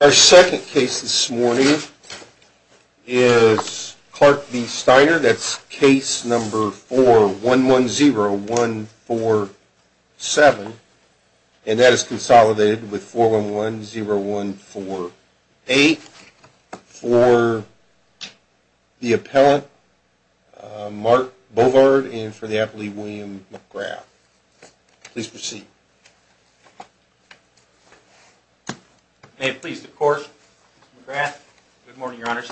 Our second case this morning is Clark v. Steiner. That's case number 4110147. And that is consolidated with 4110148 for the appellant, Mark Bovard, and for the appellee, William McGrath. Please proceed. Mark Bovard May it please the Court, Mr. McGrath. Good morning, Your Honors.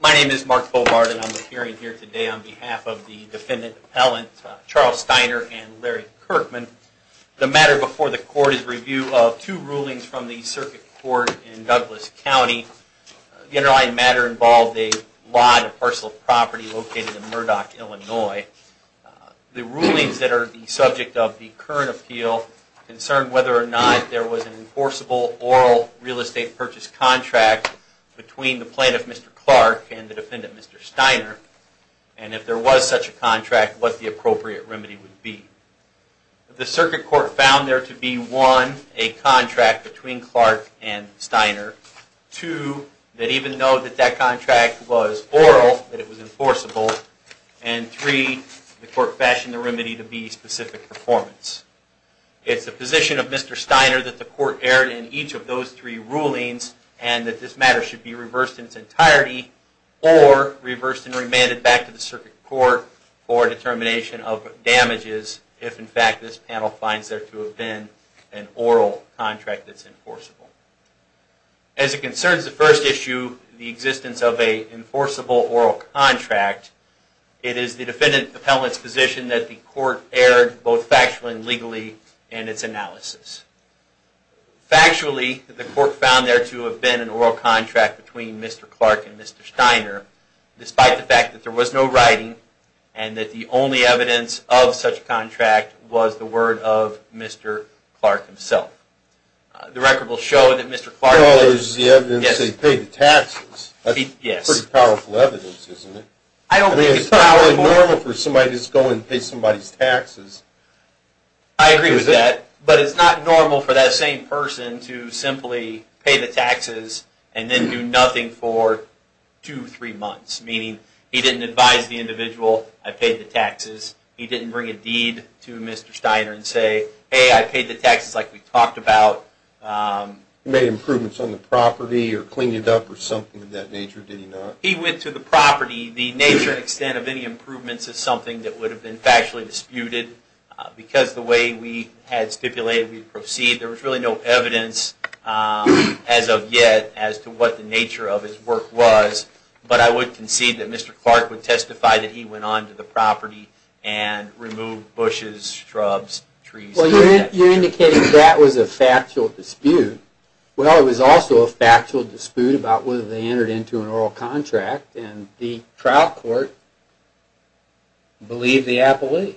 My name is Mark Bovard, and I'm appearing here today on behalf of the Defendant Appellant Charles Steiner and Larry Kirkman. The matter before the Court is review of two rulings from the Circuit Court in Douglas County. The underlying matter involved a lot of parcel property located in Murdoch, Illinois. The rulings that are the subject of the current appeal concern whether or not there was an enforceable oral real estate purchase contract between the plaintiff, Mr. Clark, and the defendant, Mr. Steiner. And if there was such a contract, what the appropriate remedy would be. The Circuit Court found there to be, one, a contract between Clark and Steiner. Two, that even though that that contract was oral, that it was enforceable. And three, the Court fashioned the remedy to be specific performance. It's the position of Mr. Steiner that the Court erred in each of those three rulings and that this matter should be reversed in its entirety or reversed and remanded back to the Circuit Court for determination of damages if, in fact, this panel finds there to have been an oral contract that's enforceable. As it concerns the first issue, the existence of an enforceable oral contract, it is the defendant appellant's position that the Court erred both factually and legally in its analysis. Factually, the Court found there to have been an oral contract between Mr. Clark and Mr. Steiner, despite the fact that there was no writing and that the only evidence of such contract was the word of Mr. Clark himself. The record will show that Mr. Clark... Well, there's the evidence that he paid the taxes. That's pretty powerful evidence, isn't it? I don't think it's powerful. I mean, it's not really normal for somebody to just go and pay somebody's taxes. I agree with that, but it's not normal for that same person to simply pay the taxes and then do nothing for two, three months, meaning he didn't advise the individual, I paid the taxes. He didn't bring a deed to Mr. Steiner and say, hey, I paid the taxes like we talked about. He made improvements on the property or cleaned it up or something of that nature, did he not? He went to the property. The nature and extent of any improvements is something that would have been factually disputed because the way we had stipulated we proceed, there was really no evidence as of yet as to what the nature of his work was. But I would concede that Mr. Clark would testify that he went on to the property and removed bushes, shrubs, trees... Well, you're indicating that was a factual dispute. Well, it was also a factual dispute about whether they entered into an oral contract and the trial court believed the appellee.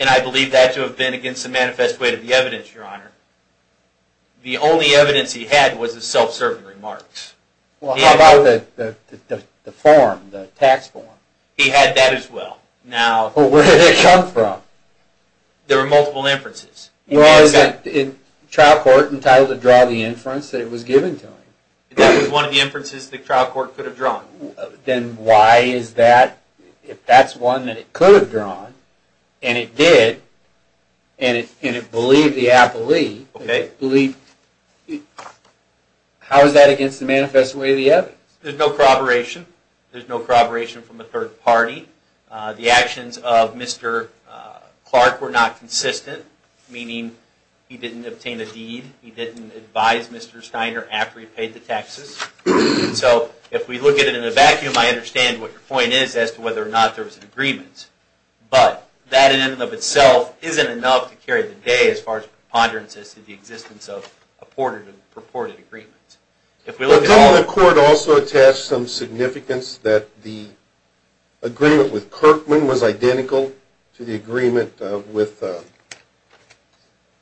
And I believe that to have been against the manifest way to the evidence, Your Honor. The only evidence he had was the self-serving remarks. Well, how about the form, the tax form? He had that as well. Where did it come from? There were multiple inferences. Was the trial court entitled to draw the inference that it was given to him? That was one of the inferences the trial court could have drawn. Then why is that? If that's one that it could have drawn, and it did, and it believed the appellee... How is that against the manifest way of the evidence? There's no corroboration. There's no corroboration from a third party. The actions of Mr. Clark were not consistent, meaning he didn't obtain a deed. He didn't advise Mr. Steiner after he paid the taxes. So if we look at it in a vacuum, I understand what your point is as to whether or not there was an agreement, but that in and of itself isn't enough to carry the day as far as preponderance as to the existence of a purported agreement. But didn't the court also attach some significance that the agreement with Kirkman was identical to the agreement with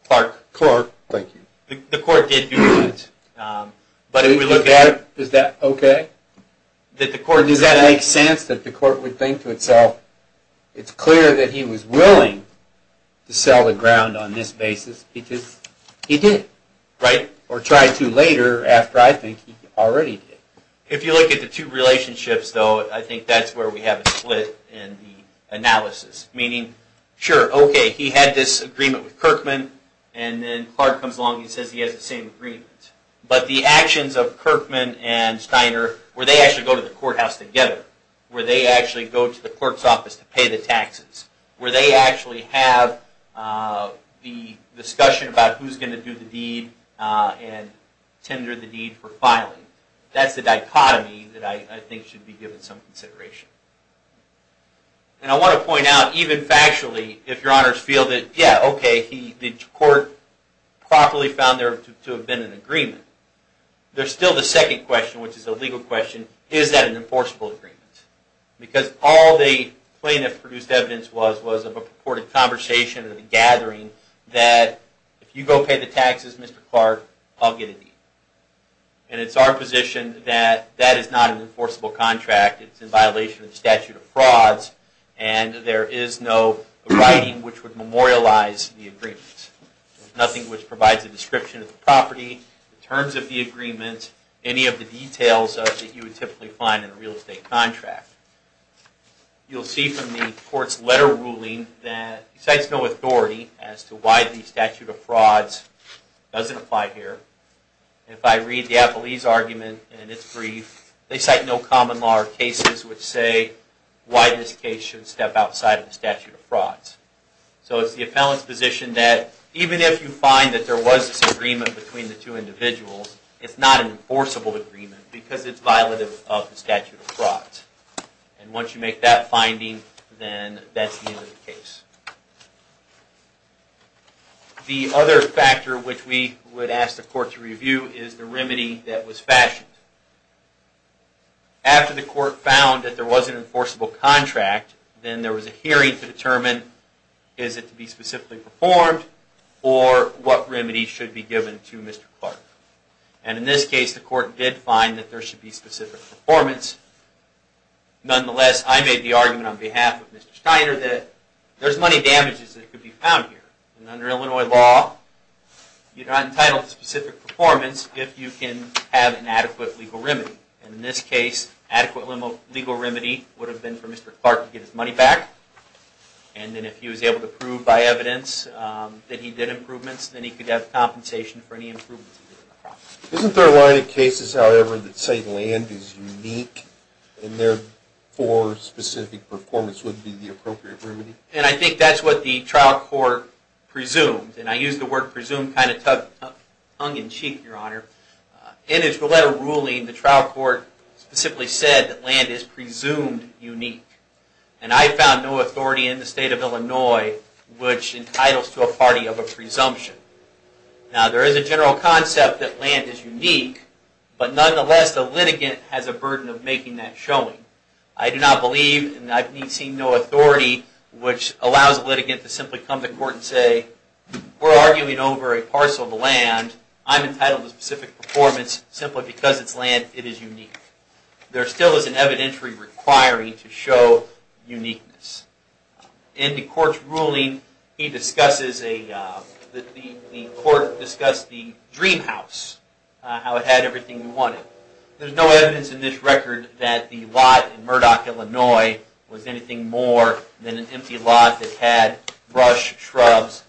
Clark? Thank you. The court did do that, but if we look at it... Is that okay? Does that make sense, that the court would think to itself, it's clear that he was willing to sell the ground on this basis, because he did, or try to later after I think he already did. If you look at the two relationships, though, I think that's where we have a split in the analysis. Meaning, sure, okay, he had this agreement with Kirkman, and then Clark comes along and says he has the same agreement. But the actions of Kirkman and Steiner, where they actually go to the courthouse together, where they actually go to the court's office to pay the taxes, where they actually have the discussion about who's going to do the deed and tender the deed for filing. That's the dichotomy that I think should be given some consideration. And I want to point out, even factually, if your honors feel that, yeah, okay, the court properly found there to have been an agreement, there's still the second question, which is the legal question, is that an enforceable agreement? Because all the plaintiff produced evidence was, was of a purported conversation and a gathering that if you go pay the taxes, Mr. Clark, I'll get a deed. And it's our position that that is not an enforceable contract. It's in violation of the statute of frauds, and there is no writing which would memorialize the agreement. Nothing which provides a description of the property, the terms of the agreement, any of the details that you would typically find in a real estate contract. You'll see from the court's letter ruling that it cites no authority as to why the statute of frauds doesn't apply here. And if I read the appellee's argument in its brief, they cite no common law or cases which say why this case should step outside of the statute of frauds. So it's the appellant's position that even if you find that there was this agreement between the two individuals, it's not an enforceable agreement because it's violative of the statute of frauds. And once you make that finding, then that's the end of the case. The other factor which we would ask the court to review is the remedy that was fashioned. After the court found that there was an enforceable contract, then there was a hearing to Mr. Clark. And in this case, the court did find that there should be specific performance. Nonetheless, I made the argument on behalf of Mr. Steiner that there's money damages that could be found here. And under Illinois law, you're not entitled to specific performance if you can have an adequate legal remedy. And in this case, adequate legal remedy would have been for Mr. Clark to get his money back. And then if he was able to prove by evidence that he did improvements, then he could have compensation for any improvements he did to the property. Isn't there a line of cases, however, that say land is unique and therefore specific performance would be the appropriate remedy? And I think that's what the trial court presumed. And I use the word presumed kind of tongue in cheek, Your Honor. In his letter ruling, the trial court specifically said that land is presumed unique. And I found no authority in the state of Illinois which entitles to a party of a presumption. Now, there is a general concept that land is unique. But nonetheless, the litigant has a burden of making that showing. I do not believe, and I've seen no authority which allows the litigant to simply come to court and say, we're arguing over a parcel of land. I'm entitled to specific performance simply because it's land. It is unique. There still is an evidentiary requiring to show uniqueness. In the court's ruling, the court discussed the dream house, how it had everything we wanted. There's no evidence in this record that the lot in Murdoch, Illinois was anything more than an empty lot that had brush, shrubs,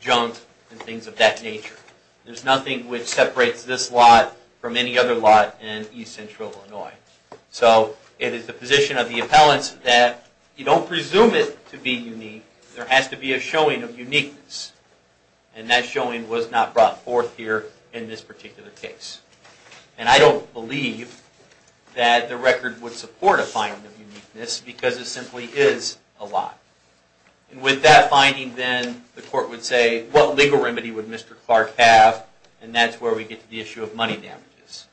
junk, and things of that nature. There's nothing which separates this lot from any other lot in East Central Illinois. So it is the position of the appellants that you don't presume it to be unique. There has to be a showing of uniqueness. And that showing was not brought forth here in this particular case. And I don't believe that the record would support a finding of uniqueness because it simply is a lot. And with that finding then, the court would say, what legal remedy would Mr. Clark have? And that's where we get to the issue of money damages.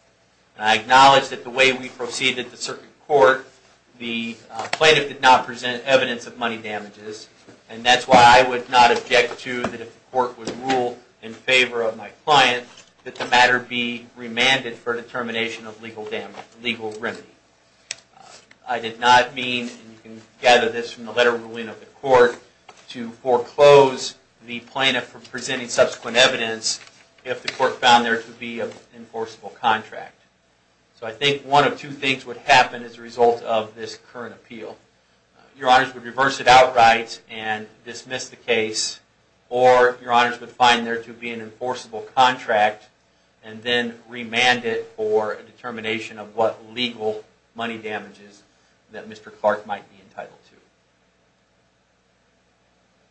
And I acknowledge that the way we proceeded the circuit court, the plaintiff did not present evidence of money damages. And that's why I would not object to that if the court would rule in favor of my client, that the matter be remanded for determination of legal remedy. I did not mean, and you can gather this from the letter ruling of the court, to foreclose the plaintiff from presenting subsequent evidence if the court found there to be an enforceable contract. So I think one of two things would happen as a result of this current appeal. Your honors would reverse it outright and dismiss the case, or your honors would find there to be an enforceable contract and then remand it for a determination of what legal money damages that Mr. Clark might be entitled to.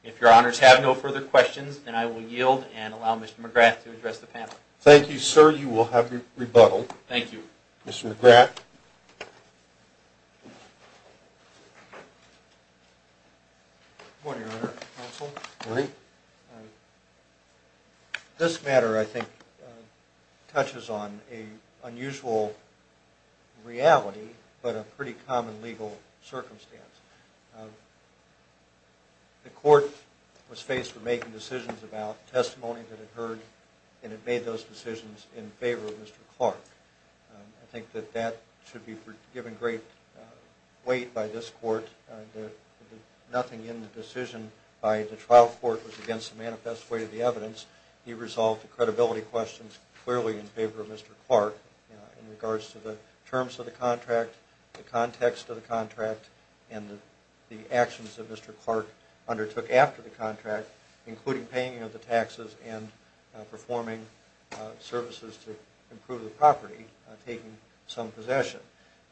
If your honors have no further questions, then I will yield and allow Mr. McGrath to address the panel. Thank you, sir. You will have your rebuttal. Mr. McGrath. Good morning, your honor, counsel. This matter, I think, touches on an unusual reality, but a pretty common legal circumstance. The court was faced with making decisions about testimony that it heard, and it made those decisions in favor of Mr. Clark. I think that that should be given great weight by this court. Nothing in the decision by the trial court was against the manifest way of the evidence. He resolved the credibility questions clearly in favor of Mr. Clark in regards to the terms of the contract, the context of the contract, and the actions that Mr. Clark undertook after the contract, including paying the taxes and performing services to improve the property, taking some possession.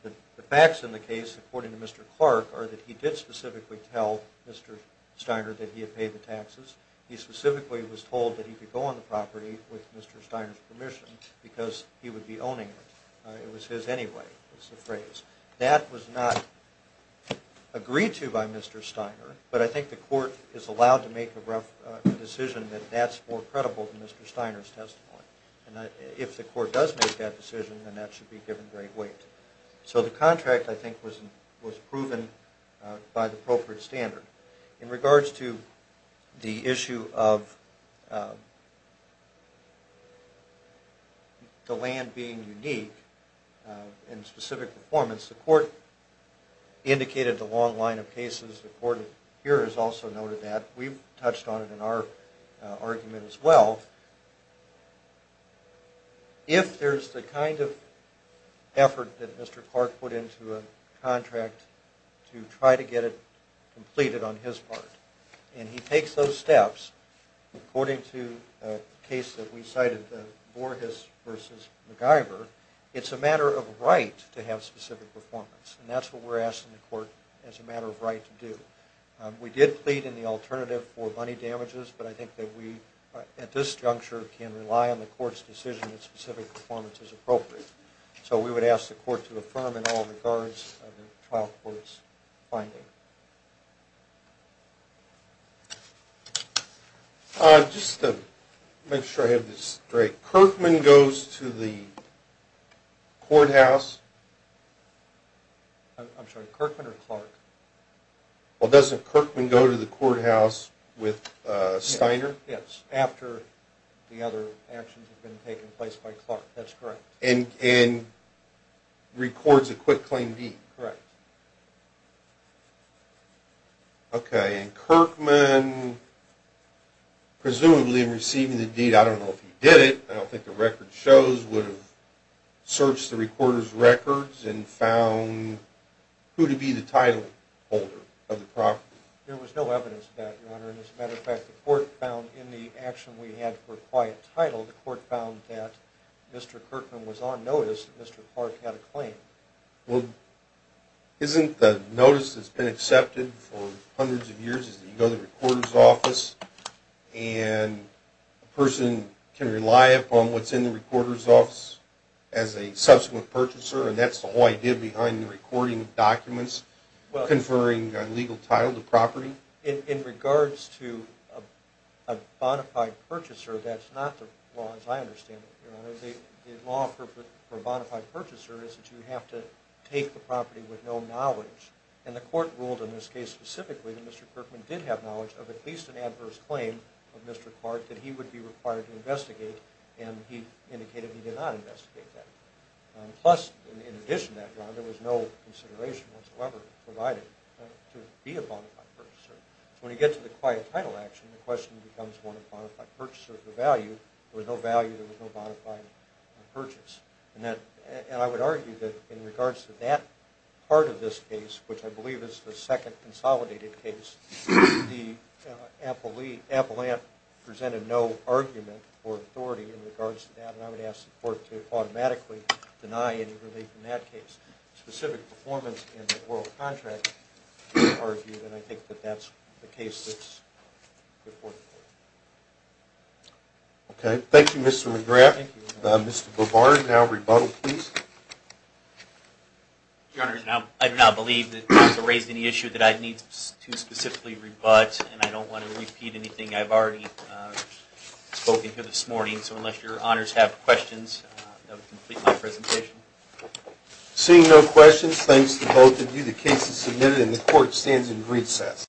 But the facts in the case, according to Mr. Clark, are that he did specifically tell Mr. Steiner that he had paid the taxes. He specifically was told that he could go on the property with Mr. Steiner's permission because he would be owning it. It was his anyway, is the phrase. That was not agreed to by Mr. Steiner, but I think the court is allowed to make a decision that that's more credible than Mr. Steiner's testimony. If the court does make that decision, then that should be given great weight. So the contract, I think, was proven by the appropriate standard. In regards to the issue of the land being unique in specific performance, the court indicated the long line of cases. The court here has also noted that. We've touched on it in our argument as well. If there's the kind of effort that Mr. Clark put into a contract to try to get it completed, on his part, and he takes those steps, according to a case that we cited, the Voorhis versus MacGyver, it's a matter of right to have specific performance. And that's what we're asking the court as a matter of right to do. We did plead in the alternative for money damages, but I think that we, at this juncture, can rely on the court's decision that specific performance is appropriate. So we would ask the court to affirm in all regards of the trial court's finding. Just to make sure I have this straight, Kirkman goes to the courthouse? I'm sorry, Kirkman or Clark? Well, doesn't Kirkman go to the courthouse with Steiner? Yes, after the other actions have been taking place by Clark. That's correct. And records a quit claim deed? Correct. Okay, and Kirkman, presumably, in receiving the deed, I don't know if he did it, I don't think the record shows, would have searched the recorder's records and found who to be the title holder of the property. There was no evidence of that, Your Honor. And as a matter of fact, the court found in the action we had for a quiet title, the court found that Mr. Kirkman was on notice that Mr. Clark had a claim. Well, isn't the notice that's been accepted for hundreds of years is that you go to the recorder's office and a person can rely upon what's in the recorder's office as a subsequent purchaser and that's the whole idea behind the recording of documents conferring a legal title to property? In regards to a bona fide purchaser, that's not the law as I understand it, Your Honor. The law for a bona fide purchaser is that you have to take the property with no knowledge. And the court ruled in this case specifically that Mr. Kirkman did have knowledge of at least an adverse claim of Mr. Clark that he would be required to investigate and he indicated he did not investigate that. Plus, in addition to that, Your Honor, there was no consideration whatsoever provided to be a bona fide purchaser. So when you get to the quiet title action, the question becomes, bona fide purchaser of the value. There was no value, there was no bona fide purchase. And I would argue that in regards to that part of this case, which I believe is the second consolidated case, the appellant presented no argument or authority in regards to that. And I would ask the court to automatically deny any relief in that case. Specific performance in the oral contract is argued and I think that that's the case before the court. Okay. Thank you, Mr. McGrath. Mr. Bovard, now rebuttal, please. Your Honor, I do not believe that you have raised any issue that I need to specifically rebut and I don't want to repeat anything I've already spoken to this morning. So unless your honors have questions, that would complete my presentation. Seeing no questions, thanks to both of you. The case is submitted and the court stands in recess.